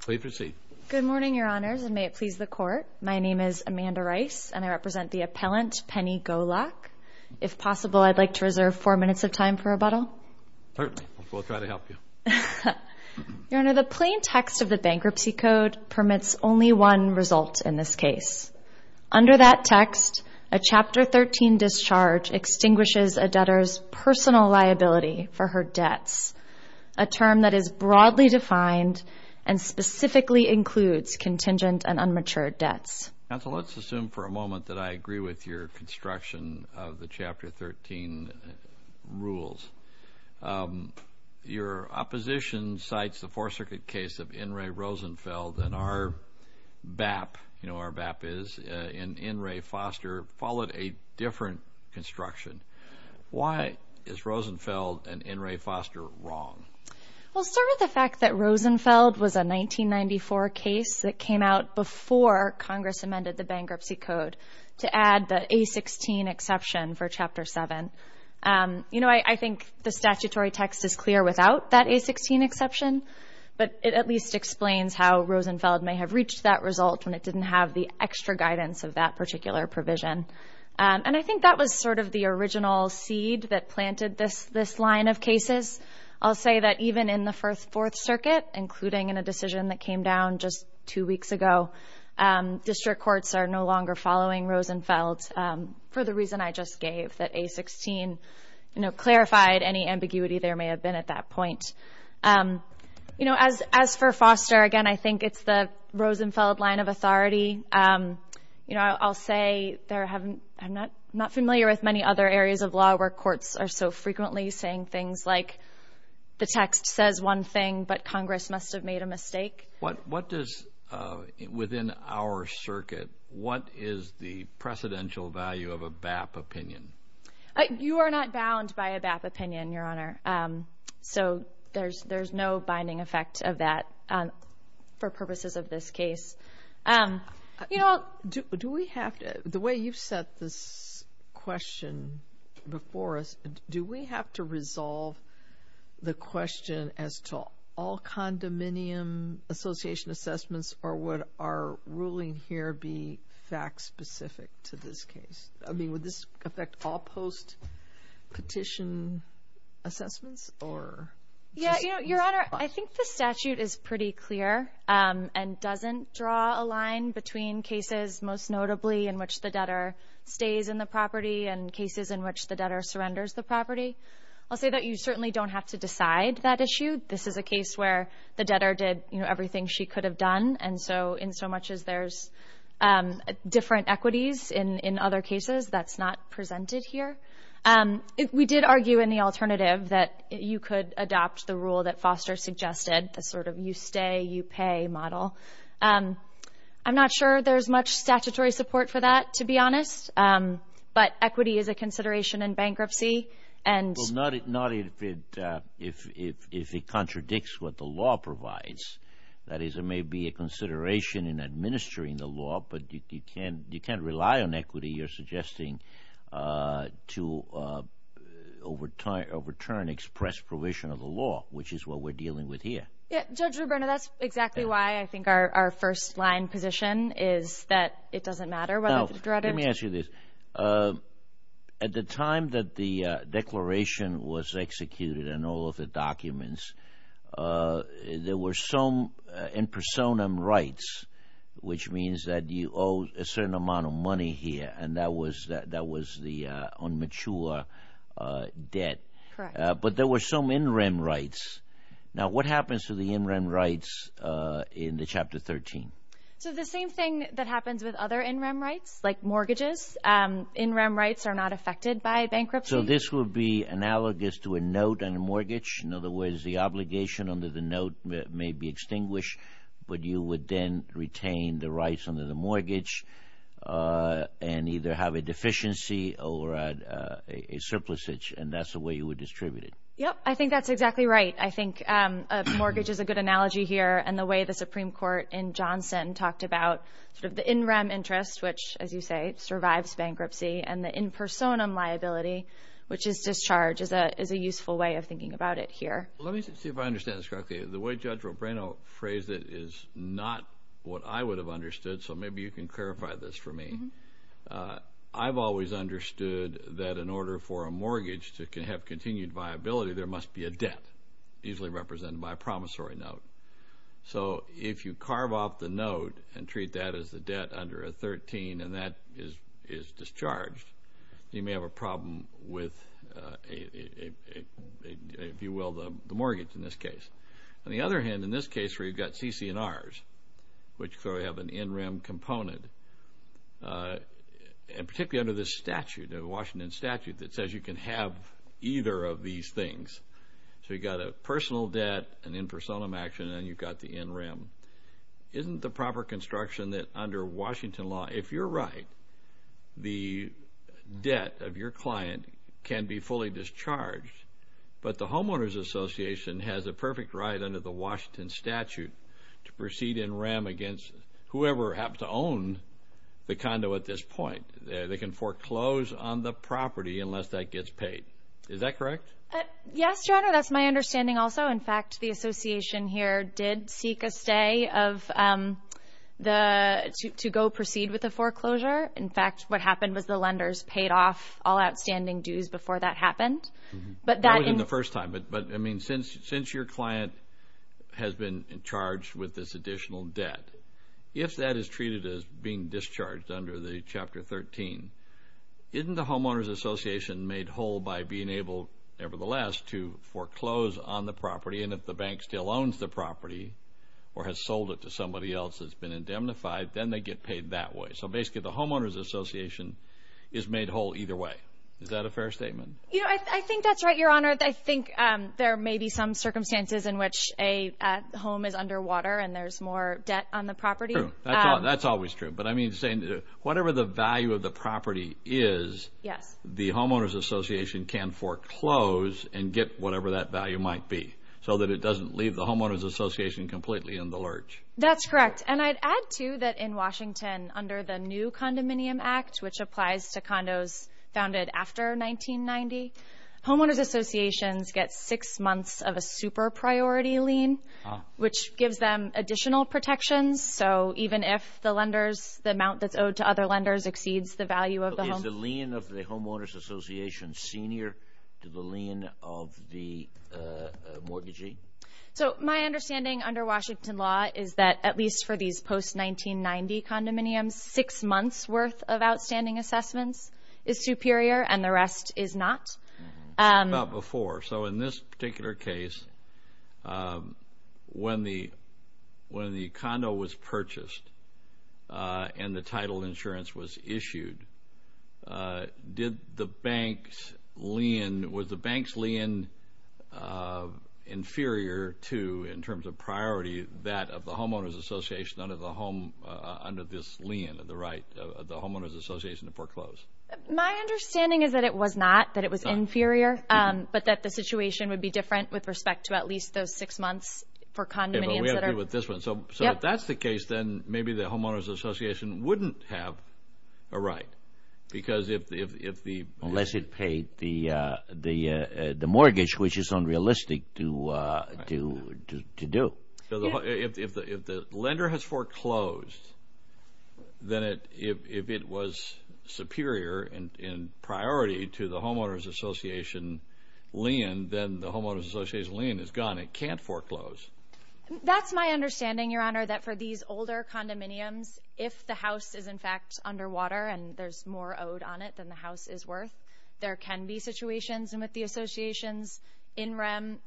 Please proceed. Good morning, Your Honors, and may it please the Court. My name is Amanda Rice, and I represent the appellant, Penny Goudelock. If possible, I'd like to reserve four minutes of time for rebuttal. Certainly. We'll try to help you. Your Honor, the plain text of the Bankruptcy Code permits only one result in this case. Under that text, a Chapter 13 discharge extinguishes a debtor's personal liability for her debts, a term that is broadly defined and specifically includes contingent and unmatured debts. Counsel, let's assume for a moment that I agree with your construction of the Chapter 13 rules. Your opposition cites the Fourth Circuit case of In rey Rosenfeld and our BAP, you know where our BAP is, and In rey Foster followed a different construction. Why is Rosenfeld and In rey Foster wrong? Well, sort of the fact that Rosenfeld was a 1994 case that came out before Congress amended the Bankruptcy Code to add the A-16 exception for Chapter 7. You know, I think the statutory text is clear without that A-16 exception, but it at least explains how Rosenfeld may have reached that result when it didn't have the extra guidance of that particular provision. And I think that was sort of the original seed that planted this line of cases. I'll say that even in the Fourth Circuit, including in a decision that came down just two weeks ago, district courts are no longer following Rosenfeld for the reason I just gave, that A-16 clarified any ambiguity there may have been at that point. You know, as for Foster, again, I think it's the Rosenfeld line of authority. You know, I'll say I'm not familiar with many other areas of law where courts are so frequently saying things like the text says one thing, but Congress must have made a mistake. What does, within our circuit, what is the precedential value of a BAP opinion? You are not bound by a BAP opinion, Your Honor. So there's no binding effect of that for purposes of this case. You know, do we have to, the way you've set this question before us, do we have to resolve the question as to all condominium association assessments or would our ruling here be fact-specific to this case? I mean, would this affect all post-petition assessments? Yeah, Your Honor, I think the statute is pretty clear and doesn't draw a line between cases, most notably in which the debtor stays in the property and cases in which the debtor surrenders the property. I'll say that you certainly don't have to decide that issue. This is a case where the debtor did everything she could have done, and so in so much as there's different equities in other cases, that's not presented here. We did argue in the alternative that you could adopt the rule that Foster suggested, the sort of you stay, you pay model. I'm not sure there's much statutory support for that, to be honest, but equity is a consideration in bankruptcy. Well, not if it contradicts what the law provides. That is, it may be a consideration in administering the law, but you can't rely on equity you're suggesting to overturn express provision of the law, which is what we're dealing with here. Yeah, Judge Rubino, that's exactly why I think our first-line position is that it doesn't matter. Let me ask you this. At the time that the declaration was executed and all of the documents, there were some in personam rights, which means that you owe a certain amount of money here, and that was the unmature debt. Correct. But there were some in rem rights. Now, what happens to the in rem rights in the Chapter 13? So the same thing that happens with other in rem rights, like mortgages, in rem rights are not affected by bankruptcy. So this would be analogous to a note on a mortgage. In other words, the obligation under the note may be extinguished, but you would then retain the rights under the mortgage and either have a deficiency or a surplusage, and that's the way you would distribute it. Yep, I think that's exactly right. I think mortgage is a good analogy here, and the way the Supreme Court in Johnson talked about sort of the in rem interest, which, as you say, survives bankruptcy, and the in personam liability, which is discharge, is a useful way of thinking about it here. Let me see if I understand this correctly. The way Judge Robreno phrased it is not what I would have understood, so maybe you can clarify this for me. I've always understood that in order for a mortgage to have continued viability, there must be a debt, usually represented by a promissory note. So if you carve off the note and treat that as the debt under a 13 and that is discharged, you may have a problem with, if you will, the mortgage in this case. On the other hand, in this case where you've got CC&Rs, which clearly have an in rem component, and particularly under this statute, the Washington statute, that says you can have either of these things. So you've got a personal debt, an in personam action, and you've got the in rem. Isn't the proper construction that under Washington law, if you're right, the debt of your client can be fully discharged, but the homeowners association has a perfect right under the Washington statute to proceed in rem against whoever happens to own the condo at this point. They can foreclose on the property unless that gets paid. Is that correct? Yes, Your Honor, that's my understanding also. In fact, the association here did seek a stay to go proceed with the foreclosure. In fact, what happened was the lenders paid off all outstanding dues before that happened. That was in the first time. But, I mean, since your client has been charged with this additional debt, if that is treated as being discharged under the Chapter 13, isn't the homeowners association made whole by being able, nevertheless, to foreclose on the property, and if the bank still owns the property or has sold it to somebody else that's been indemnified, then they get paid that way. So basically the homeowners association is made whole either way. Is that a fair statement? I think that's right, Your Honor. I think there may be some circumstances in which a home is underwater and there's more debt on the property. That's always true. But, I mean, saying whatever the value of the property is, the homeowners association can foreclose and get whatever that value might be so that it doesn't leave the homeowners association completely in the lurch. That's correct. And I'd add, too, that in Washington, under the new Condominium Act, which applies to condos founded after 1990, homeowners associations get six months of a super priority lien, which gives them additional protections. So even if the amount that's owed to other lenders exceeds the value of the home. Is the lien of the homeowners association senior to the lien of the mortgagee? So my understanding under Washington law is that, at least for these post-1990 condominiums, six months' worth of outstanding assessments is superior and the rest is not. So in this particular case, when the condo was purchased and the title insurance was issued, was the bank's lien inferior to, in terms of priority, that of the homeowners association under this lien, the homeowners association to foreclose? My understanding is that it was not, that it was inferior, but that the situation would be different with respect to at least those six months for condominiums. But we agree with this one. So if that's the case, then maybe the homeowners association wouldn't have a right because if the- Unless it paid the mortgage, which is unrealistic to do. If the lender has foreclosed, then if it was superior in priority to the homeowners association lien, then the homeowners association lien is gone. It can't foreclose. That's my understanding, Your Honor, that for these older condominiums, if the house is, in fact, underwater and there's more owed on it than the house is worth, there can be situations. And with the associations, in rem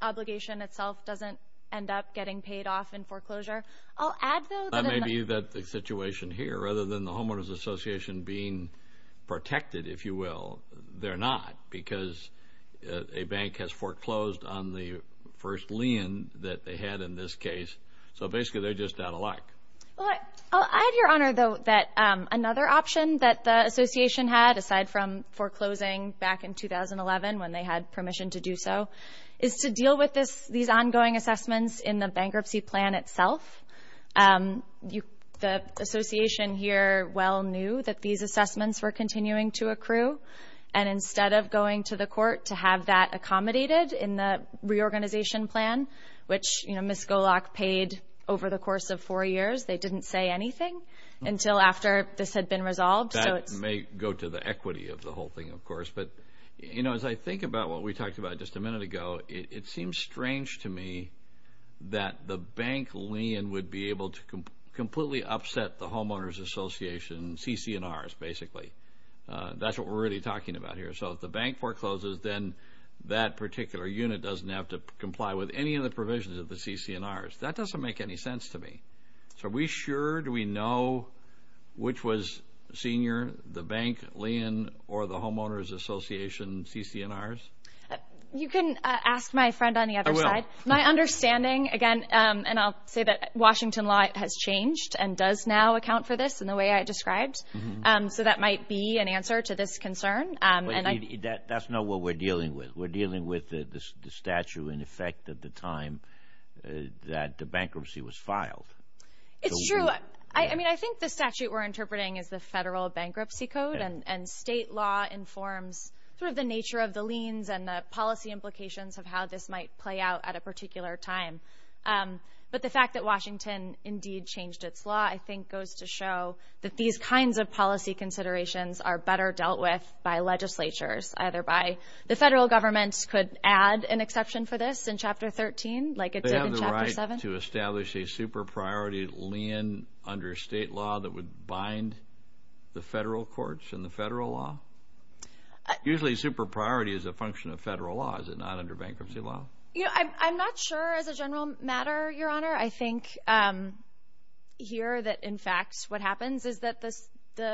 obligation itself doesn't end up getting paid off in foreclosure. I'll add, though- That may be the situation here. Rather than the homeowners association being protected, if you will, they're not because a bank has foreclosed on the first lien that they had in this case. So basically they're just not alike. I'll add, Your Honor, though, that another option that the association had, aside from foreclosing back in 2011 when they had permission to do so, is to deal with these ongoing assessments in the bankruptcy plan itself. The association here well knew that these assessments were continuing to accrue, and instead of going to the court to have that accommodated in the reorganization plan, which Ms. Golock paid over the course of four years, they didn't say anything until after this had been resolved. That may go to the equity of the whole thing, of course. But, you know, as I think about what we talked about just a minute ago, it seems strange to me that the bank lien would be able to completely upset the homeowners association, CC&Rs, basically. That's what we're really talking about here. So if the bank forecloses, then that particular unit doesn't have to comply with any of the provisions of the CC&Rs. That doesn't make any sense to me. So are we sure? Do we know which was senior, the bank lien or the homeowners association CC&Rs? You can ask my friend on the other side. I will. My understanding, again, and I'll say that Washington law has changed and does now account for this in the way I described. So that might be an answer to this concern. That's not what we're dealing with. We're dealing with the statute in effect at the time that the bankruptcy was filed. It's true. I mean, I think the statute we're interpreting is the federal bankruptcy code, and state law informs sort of the nature of the liens and the policy implications of how this might play out at a particular time. But the fact that Washington indeed changed its law, I think, goes to show that these kinds of policy considerations are better dealt with by legislatures, either by the federal government could add an exception for this in Chapter 13 like it did in Chapter 7. Do they have the right to establish a super-priority lien under state law that would bind the federal courts and the federal law? Usually super-priority is a function of federal law. Is it not under bankruptcy law? I'm not sure as a general matter, Your Honor. I think here that, in fact, what happens is that the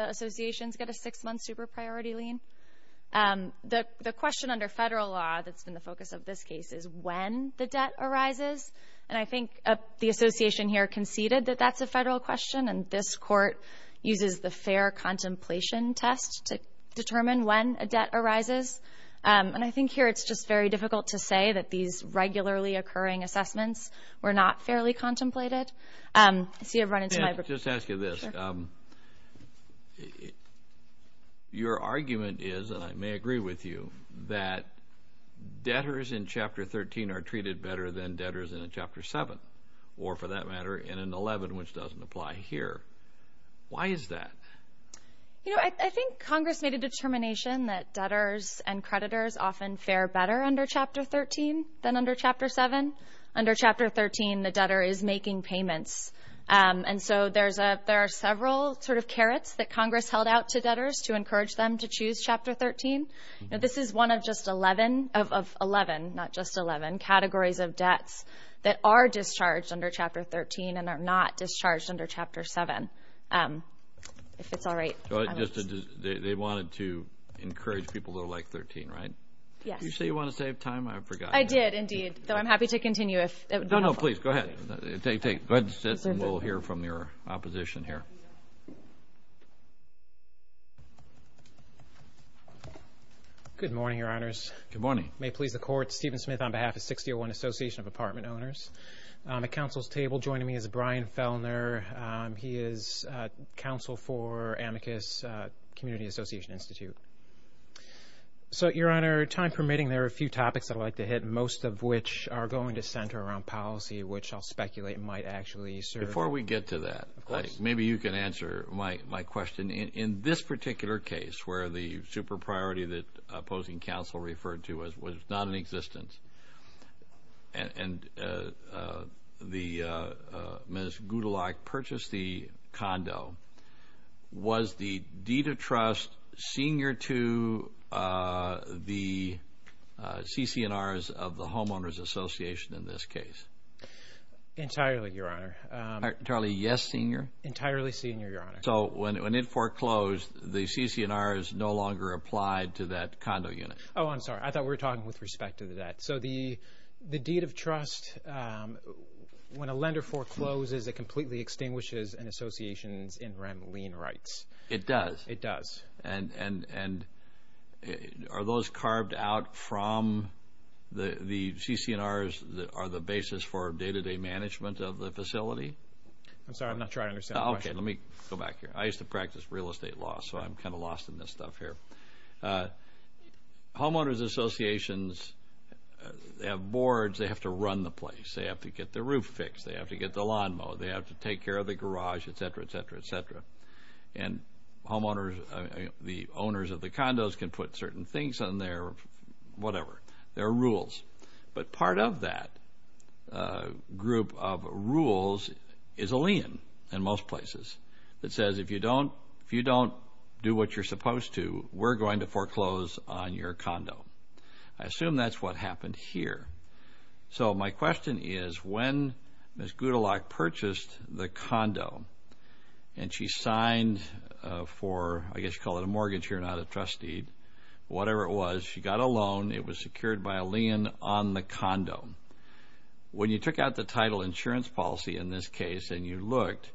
associations get a six-month super-priority lien. The question under federal law that's been the focus of this case is when the debt arises, and I think the association here conceded that that's a federal question, and this court uses the fair contemplation test to determine when a debt arises. And I think here it's just very difficult to say that these regularly occurring assessments were not fairly contemplated. See, I've run into my report. Just ask you this. Your argument is, and I may agree with you, that debtors in Chapter 13 are treated better than debtors in Chapter 7, or for that matter in an 11, which doesn't apply here. Why is that? You know, I think Congress made a determination that debtors and creditors often fare better under Chapter 13 than under Chapter 7. Under Chapter 13, the debtor is making payments, and so there are several sort of carrots that Congress held out to debtors to encourage them to choose Chapter 13. This is one of just 11, of 11, not just 11, categories of debts that are discharged under Chapter 13 and are not discharged under Chapter 7. If it's all right. They wanted to encourage people to elect 13, right? Yes. You say you want to save time? I forgot. I did, indeed, though I'm happy to continue. No, no, please, go ahead. Go ahead and sit, and we'll hear from your opposition here. Good morning, Your Honors. Good morning. May it please the Court, Stephen Smith on behalf of 6001 Association of Apartment Owners. At counsel's table joining me is Brian Fellner. He is counsel for Amicus Community Association Institute. So, Your Honor, time permitting, there are a few topics I'd like to hit, most of which are going to center around policy, which I'll speculate might actually serve. Before we get to that, maybe you can answer my question. In this particular case where the super priority that opposing counsel referred to was not in existence and Ms. Gutelach purchased the condo, was the deed of trust senior to the CC&Rs of the homeowners association in this case? Entirely, Your Honor. Entirely yes, senior? Entirely senior, Your Honor. So when it foreclosed, the CC&Rs no longer applied to that condo unit? Oh, I'm sorry. I thought we were talking with respect to that. So the deed of trust, when a lender forecloses, it completely extinguishes an association's in rem lien rights? It does. It does. And are those carved out from the CC&Rs that are the basis for day-to-day management of the facility? I'm sorry, I'm not trying to understand the question. Okay, let me go back here. I used to practice real estate law, so I'm kind of lost in this stuff here. Homeowners associations have boards. They have to run the place. They have to get the roof fixed. They have to get the lawn mowed. They have to take care of the garage, et cetera, et cetera, et cetera. And homeowners, the owners of the condos can put certain things on there, whatever. There are rules. But part of that group of rules is a lien in most places that says, if you don't do what you're supposed to, we're going to foreclose on your condo. I assume that's what happened here. So my question is, when Ms. Goodelock purchased the condo and she signed for, I guess you call it a mortgage here, not a trust deed, whatever it was, she got a loan, it was secured by a lien on the condo. When you took out the title insurance policy in this case and you looked,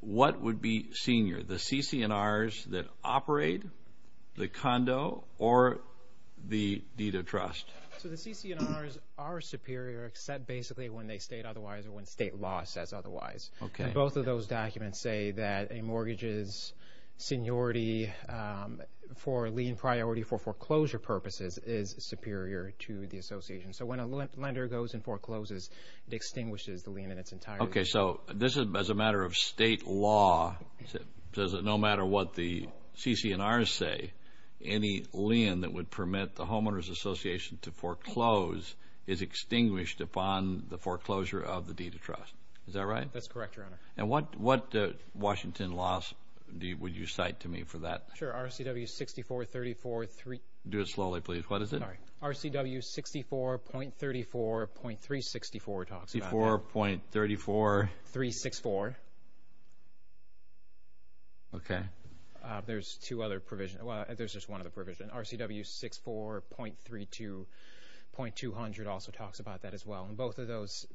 what would be senior, the CC&Rs that operate the condo or the deed of trust? So the CC&Rs are superior except basically when they state otherwise or when state law says otherwise. And both of those documents say that a mortgage's seniority for lien priority for foreclosure purposes is superior to the association. So when a lender goes and forecloses, it extinguishes the lien in its entirety. Okay, so as a matter of state law, no matter what the CC&Rs say, any lien that would permit the homeowners association to foreclose is extinguished upon the foreclosure of the deed of trust. Is that right? That's correct, Your Honor. And what Washington laws would you cite to me for that? Sure, RCW 64.34. Do it slowly, please. What is it? RCW 64.34.364 talks about that. 64.34.364. Okay. There's two other provisions. Well, there's just one other provision. RCW 64.32.200 also talks about that as well. And both of those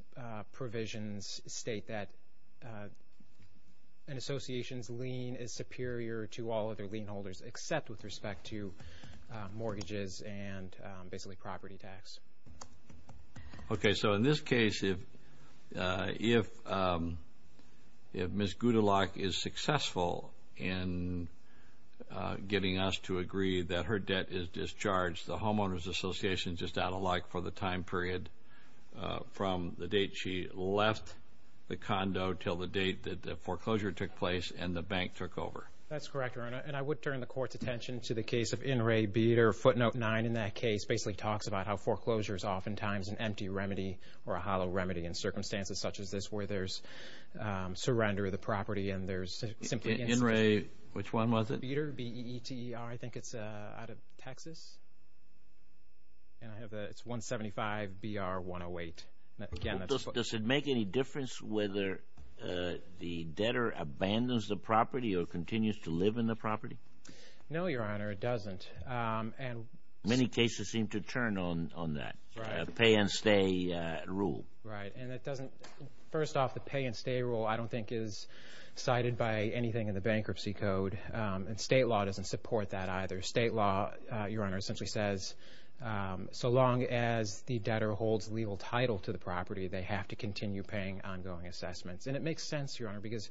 provisions state that an association's lien is superior to all other lien holders except with respect to mortgages and basically property tax. Okay. So in this case, if Ms. Gutelach is successful in getting us to agree that her debt is discharged, the homeowners association is just out of luck for the time period from the date she left the condo until the date that the foreclosure took place and the bank took over. That's correct, Your Honor. And I would turn the Court's attention to the case of In re Beter. Footnote 9 in that case basically talks about how foreclosure is oftentimes an empty remedy or a hollow remedy in circumstances such as this where there's surrender of the property and there's simply In re, which one was it? Beter, B-E-E-T-E-R. I think it's out of Texas. And I have the 175-BR-108. Does it make any difference whether the debtor abandons the property or continues to live in the property? No, Your Honor, it doesn't. Many cases seem to turn on that, the pay and stay rule. Right, and it doesn't. First off, the pay and stay rule I don't think is cited by anything in the bankruptcy code, and state law doesn't support that either. State law, Your Honor, essentially says so long as the debtor holds legal title to the property, they have to continue paying ongoing assessments. And it makes sense, Your Honor, because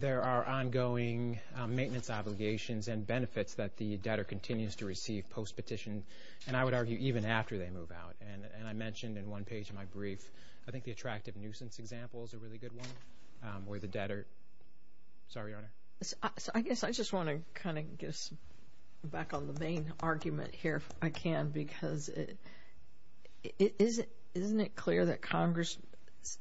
there are ongoing maintenance obligations and benefits that the debtor continues to receive post-petition, and I would argue even after they move out. And I mentioned in one page of my brief, I think the attractive nuisance example is a really good one where the debtor, sorry, Your Honor. I guess I just want to kind of get back on the main argument here if I can, because isn't it clear that Congress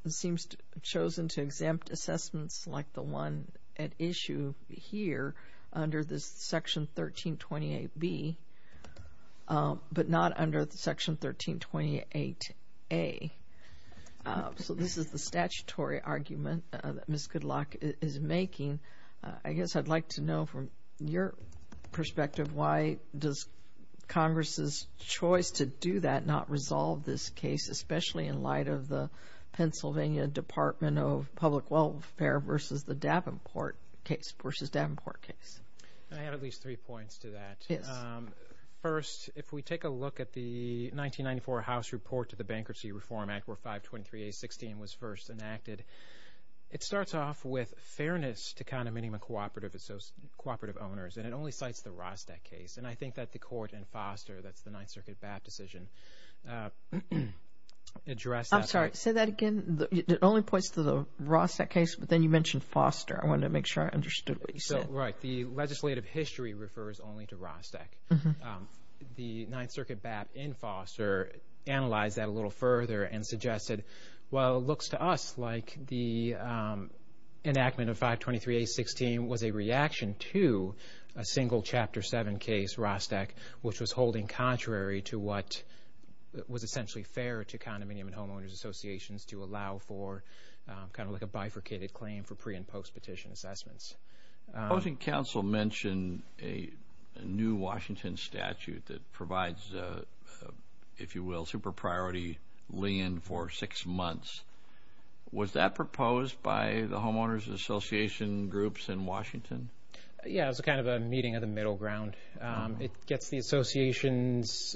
seems chosen to exempt assessments like the one at issue here under this Section 1328B, but not under Section 1328A? So this is the statutory argument that Ms. Goodluck is making. I guess I'd like to know from your perspective, why does Congress's choice to do that not resolve this case, especially in light of the Pennsylvania Department of Public Welfare versus the Davenport case? I have at least three points to that. First, if we take a look at the 1994 House report to the Bankruptcy Reform Act where 523A.16 was first enacted, it starts off with fairness to condominium and cooperative owners, and it only cites the Rostec case. And I think that the court in Foster, that's the Ninth Circuit BAP decision, addressed that. I'm sorry, say that again. It only points to the Rostec case, but then you mentioned Foster. I wanted to make sure I understood what you said. Right. The legislative history refers only to Rostec. The Ninth Circuit BAP in Foster analyzed that a little further and suggested, well, it looks to us like the enactment of 523A.16 was a reaction to a single Chapter 7 case, Rostec, which was holding contrary to what was essentially fair to condominium and homeowners associations to allow for kind of like a bifurcated claim for pre- and post-petition assessments. I think counsel mentioned a new Washington statute that provides, if you will, super priority lien for six months. Was that proposed by the homeowners association groups in Washington? Yeah, it was kind of a meeting of the middle ground. It gets the associations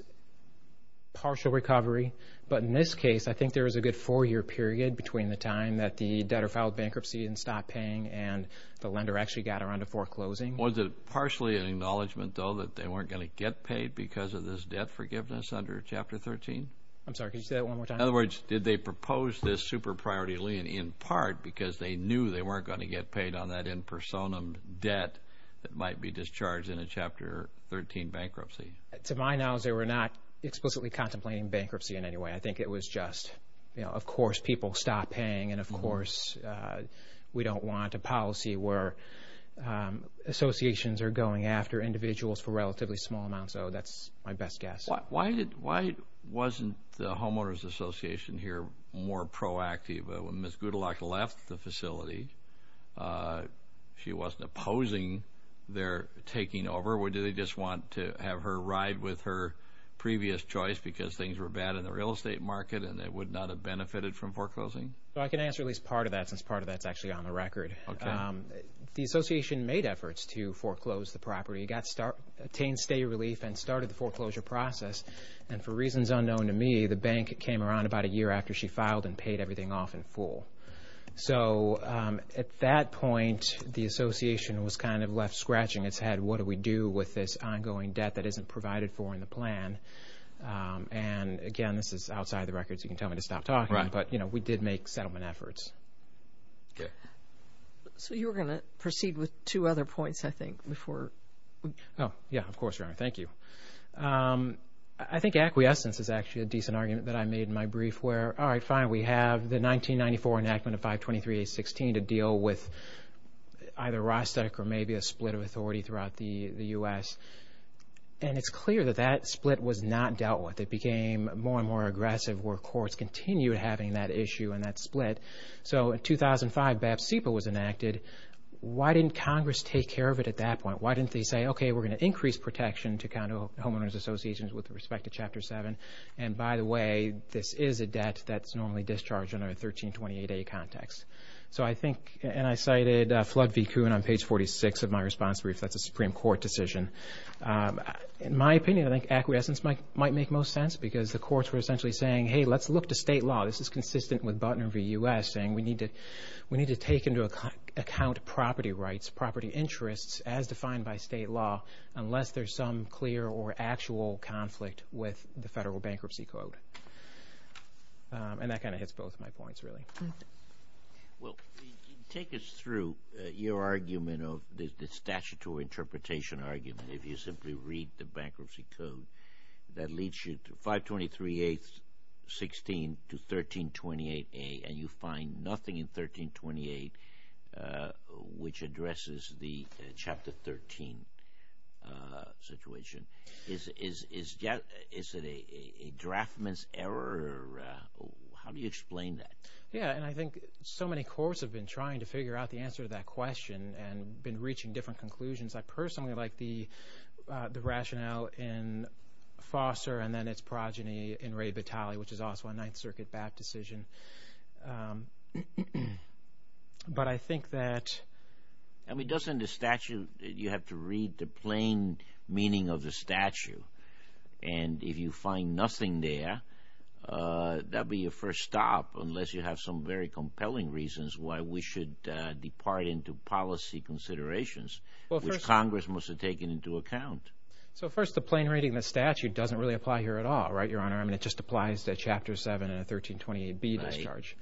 partial recovery, but in this case I think there was a good four-year period between the time that the debtor filed bankruptcy and stopped paying and the lender actually got around to foreclosing. Was it partially an acknowledgment, though, that they weren't going to get paid because of this debt forgiveness under Chapter 13? I'm sorry, could you say that one more time? In other words, did they propose this super priority lien in part because they knew they weren't going to get paid on that in personam debt that might be discharged in a Chapter 13 bankruptcy? To my knowledge, they were not explicitly contemplating bankruptcy in any way. I think it was just, you know, of course people stop paying and of course we don't want a policy where associations are going after individuals for relatively small amounts, so that's my best guess. Why wasn't the homeowners association here more proactive? When Ms. Goodelock left the facility, she wasn't opposing their taking over, or did they just want to have her ride with her previous choice because things were bad in the real estate market and they would not have benefited from foreclosing? I can answer at least part of that since part of that is actually on the record. Okay. The association made efforts to foreclose the property, obtained state relief, and started the foreclosure process, and for reasons unknown to me, the bank came around about a year after she filed and paid everything off in full. So at that point, the association was kind of left scratching its head, what do we do with this ongoing debt that isn't provided for in the plan? And again, this is outside the records, you can tell me to stop talking, but we did make settlement efforts. Okay. So you were going to proceed with two other points, I think, before. Yeah, of course, Your Honor. Thank you. I think acquiescence is actually a decent argument that I made in my brief where all right, fine, we have the 1994 enactment of 523-A-16 to deal with either Rostec or maybe a split of authority throughout the U.S., and it's clear that that split was not dealt with. It became more and more aggressive where courts continued having that issue and that split. So in 2005, BAP-CEPA was enacted. Why didn't Congress take care of it at that point? Why didn't they say, okay, we're going to increase protection to kind of homeowners associations with respect to Chapter 7, and by the way, this is a debt that's normally discharged under a 1328-A context. So I think, and I cited Flood v. Coon on page 46 of my response brief. That's a Supreme Court decision. In my opinion, I think acquiescence might make most sense because the courts were essentially saying, hey, let's look to state law. This is consistent with Butner v. U.S. saying we need to take into account property rights, property interests as defined by state law unless there's some clear or actual conflict with the federal bankruptcy code. And that kind of hits both my points really. Well, take us through your argument of the statutory interpretation argument if you simply read the bankruptcy code that leads you to 523-A, 16 to 1328-A, and you find nothing in 1328 which addresses the Chapter 13 situation. Is it a draftman's error or how do you explain that? Yeah, and I think so many courts have been trying to figure out the answer to that question and been reaching different conclusions. I personally like the rationale in Foster and then its progeny in Ray Batali which is also a Ninth Circuit BAP decision. But I think that… I mean, doesn't the statute, you have to read the plain meaning of the statute, and if you find nothing there, that would be your first stop unless you have some very compelling reasons why we should depart into policy considerations which Congress must have taken into account. So first, the plain reading in the statute doesn't really apply here at all, right, Your Honor? I mean, it just applies to Chapter 7 and 1328-B discharge.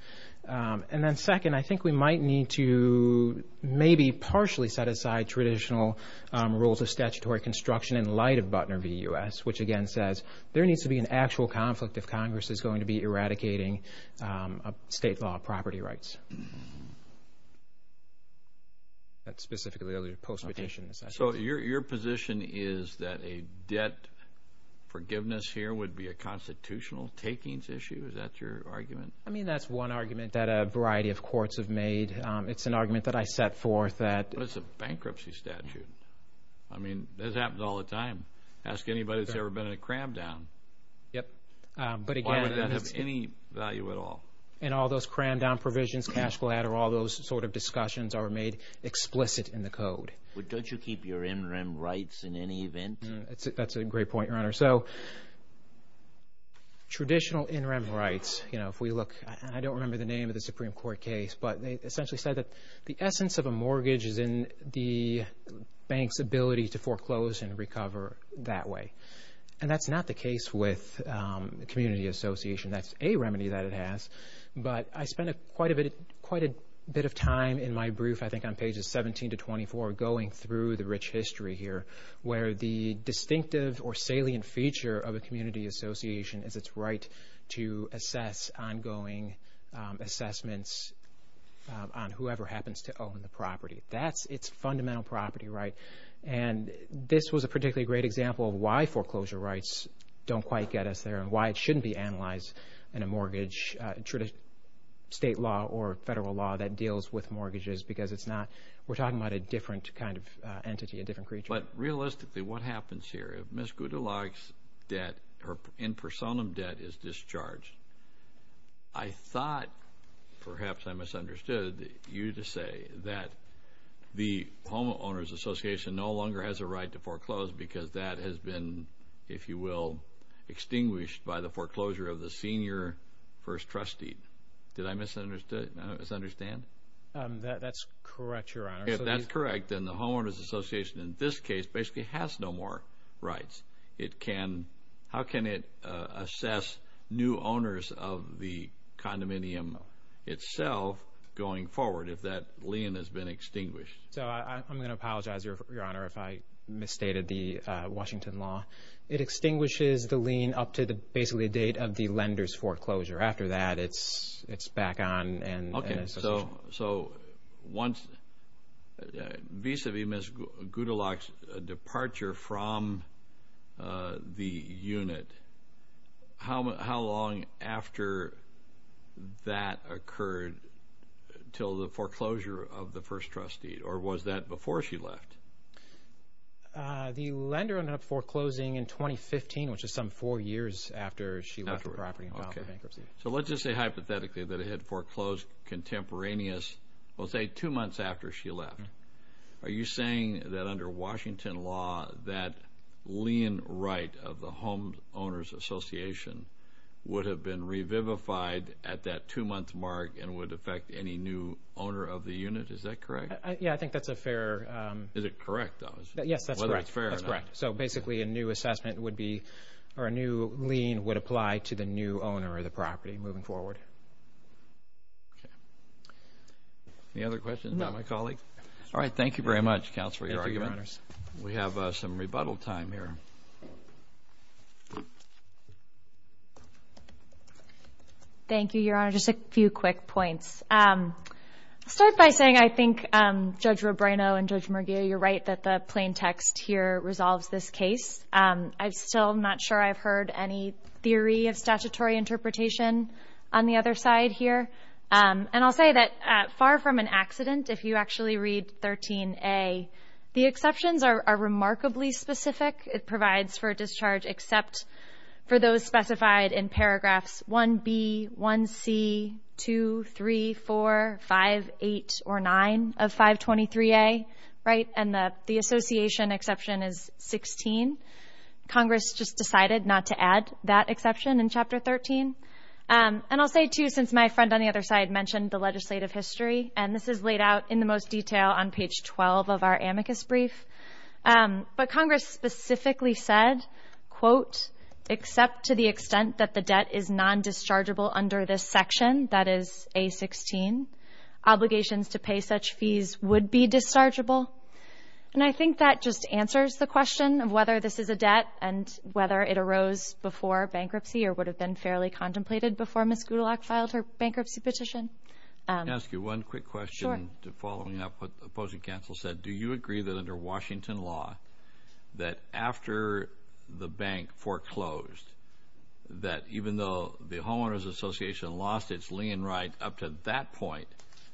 And then second, I think we might need to maybe partially set aside traditional rules of statutory construction in light of Butner v. U.S. which again says there needs to be an actual conflict if Congress is going to be eradicating state law property rights. That's specifically the post-petition. So your position is that a debt forgiveness here would be a constitutional takings issue? Is that your argument? I mean, that's one argument that a variety of courts have made. It's an argument that I set forth that… But it's a bankruptcy statute. I mean, this happens all the time. Ask anybody that's ever been in a cram-down. Yep. Why would that have any value at all? And all those cram-down provisions, cash collateral, all those sort of discussions are made explicit in the code. But don't you keep your in-rem rights in any event? That's a great point, Your Honor. So traditional in-rem rights, you know, if we look, I don't remember the name of the Supreme Court case, but they essentially said that the essence of a mortgage is in the bank's ability to foreclose and recover that way. And that's not the case with the community association. That's a remedy that it has. But I spent quite a bit of time in my brief, I think on pages 17 to 24, going through the rich history here, where the distinctive or salient feature of a community association is its right to assess ongoing assessments on whoever happens to own the property. That's its fundamental property right. And this was a particularly great example of why foreclosure rights don't quite get us there and why it shouldn't be analyzed in a mortgage, state law or federal law that deals with mortgages, because we're talking about a different kind of entity, a different creature. But realistically, what happens here? If Ms. Gudulak's debt or in personam debt is discharged, I thought, perhaps I misunderstood you to say, that the homeowners association no longer has a right to foreclose because that has been, if you will, extinguished by the foreclosure of the senior first trustee. Did I misunderstand? That's correct, Your Honor. If that's correct, then the homeowners association in this case basically has no more rights. How can it assess new owners of the condominium itself going forward if that lien has been extinguished? I'm going to apologize, Your Honor, if I misstated the Washington law. It extinguishes the lien up to basically the date of the lender's foreclosure. After that, it's back on. Okay, so once vis-a-vis Ms. Gudulak's departure from the unit, how long after that occurred until the foreclosure of the first trustee, or was that before she left? The lender ended up foreclosing in 2015, which is some four years after she left the property and filed for bankruptcy. So let's just say hypothetically that it had foreclosed contemporaneous, we'll say two months after she left. Are you saying that under Washington law, that lien right of the homeowners association would have been revivified at that two-month mark and would affect any new owner of the unit? Is that correct? Yeah, I think that's a fair... Is it correct, though? Yes, that's correct. Whether it's fair or not. That's correct. So basically a new assessment would be, or a new lien would apply to the new owner of the property moving forward. Okay. Any other questions by my colleague? No. All right, thank you very much, Counselor Uregen. Thank you, Your Honor. We have some rebuttal time here. Thank you, Your Honor. Just a few quick points. I'll start by saying I think Judge Robreno and Judge Merguez, you're right that the plain text here resolves this case. I'm still not sure I've heard any theory of statutory interpretation on the other side here. And I'll say that far from an accident, if you actually read 13A, the exceptions are remarkably specific. It provides for discharge except for those specified in paragraphs 1B, 1C, 2, 3, 4, 5, 8, or 9 of 523A, right? And the association exception is 16. Congress just decided not to add that exception in Chapter 13. And I'll say, too, since my friend on the other side mentioned the legislative history, and this is laid out in the most detail on page 12 of our amicus brief, but Congress specifically said, quote, except to the extent that the debt is non-dischargeable under this section, that is, A16, obligations to pay such fees would be dischargeable. And I think that just answers the question of whether this is a debt and whether it arose before bankruptcy or would have been fairly contemplated before Ms. Goodelock filed her bankruptcy petition. Can I ask you one quick question? Sure. Just following up what the opposing counsel said, do you agree that under Washington law that after the bank foreclosed, that even though the homeowners association lost its lien right up to that point,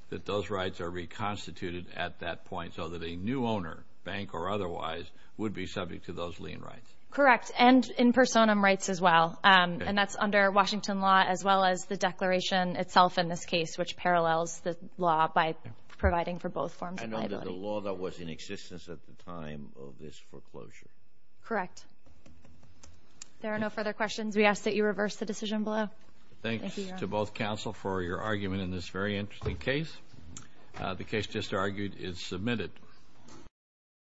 that those rights are reconstituted at that point so that a new owner, bank or otherwise, would be subject to those lien rights? Correct, and in personam rights as well. And that's under Washington law as well as the declaration itself in this case, which parallels the law by providing for both forms of liability. I know that the law that was in existence at the time of this foreclosure. Correct. If there are no further questions, we ask that you reverse the decision below. Thanks to both counsel for your argument in this very interesting case. The case just argued is submitted.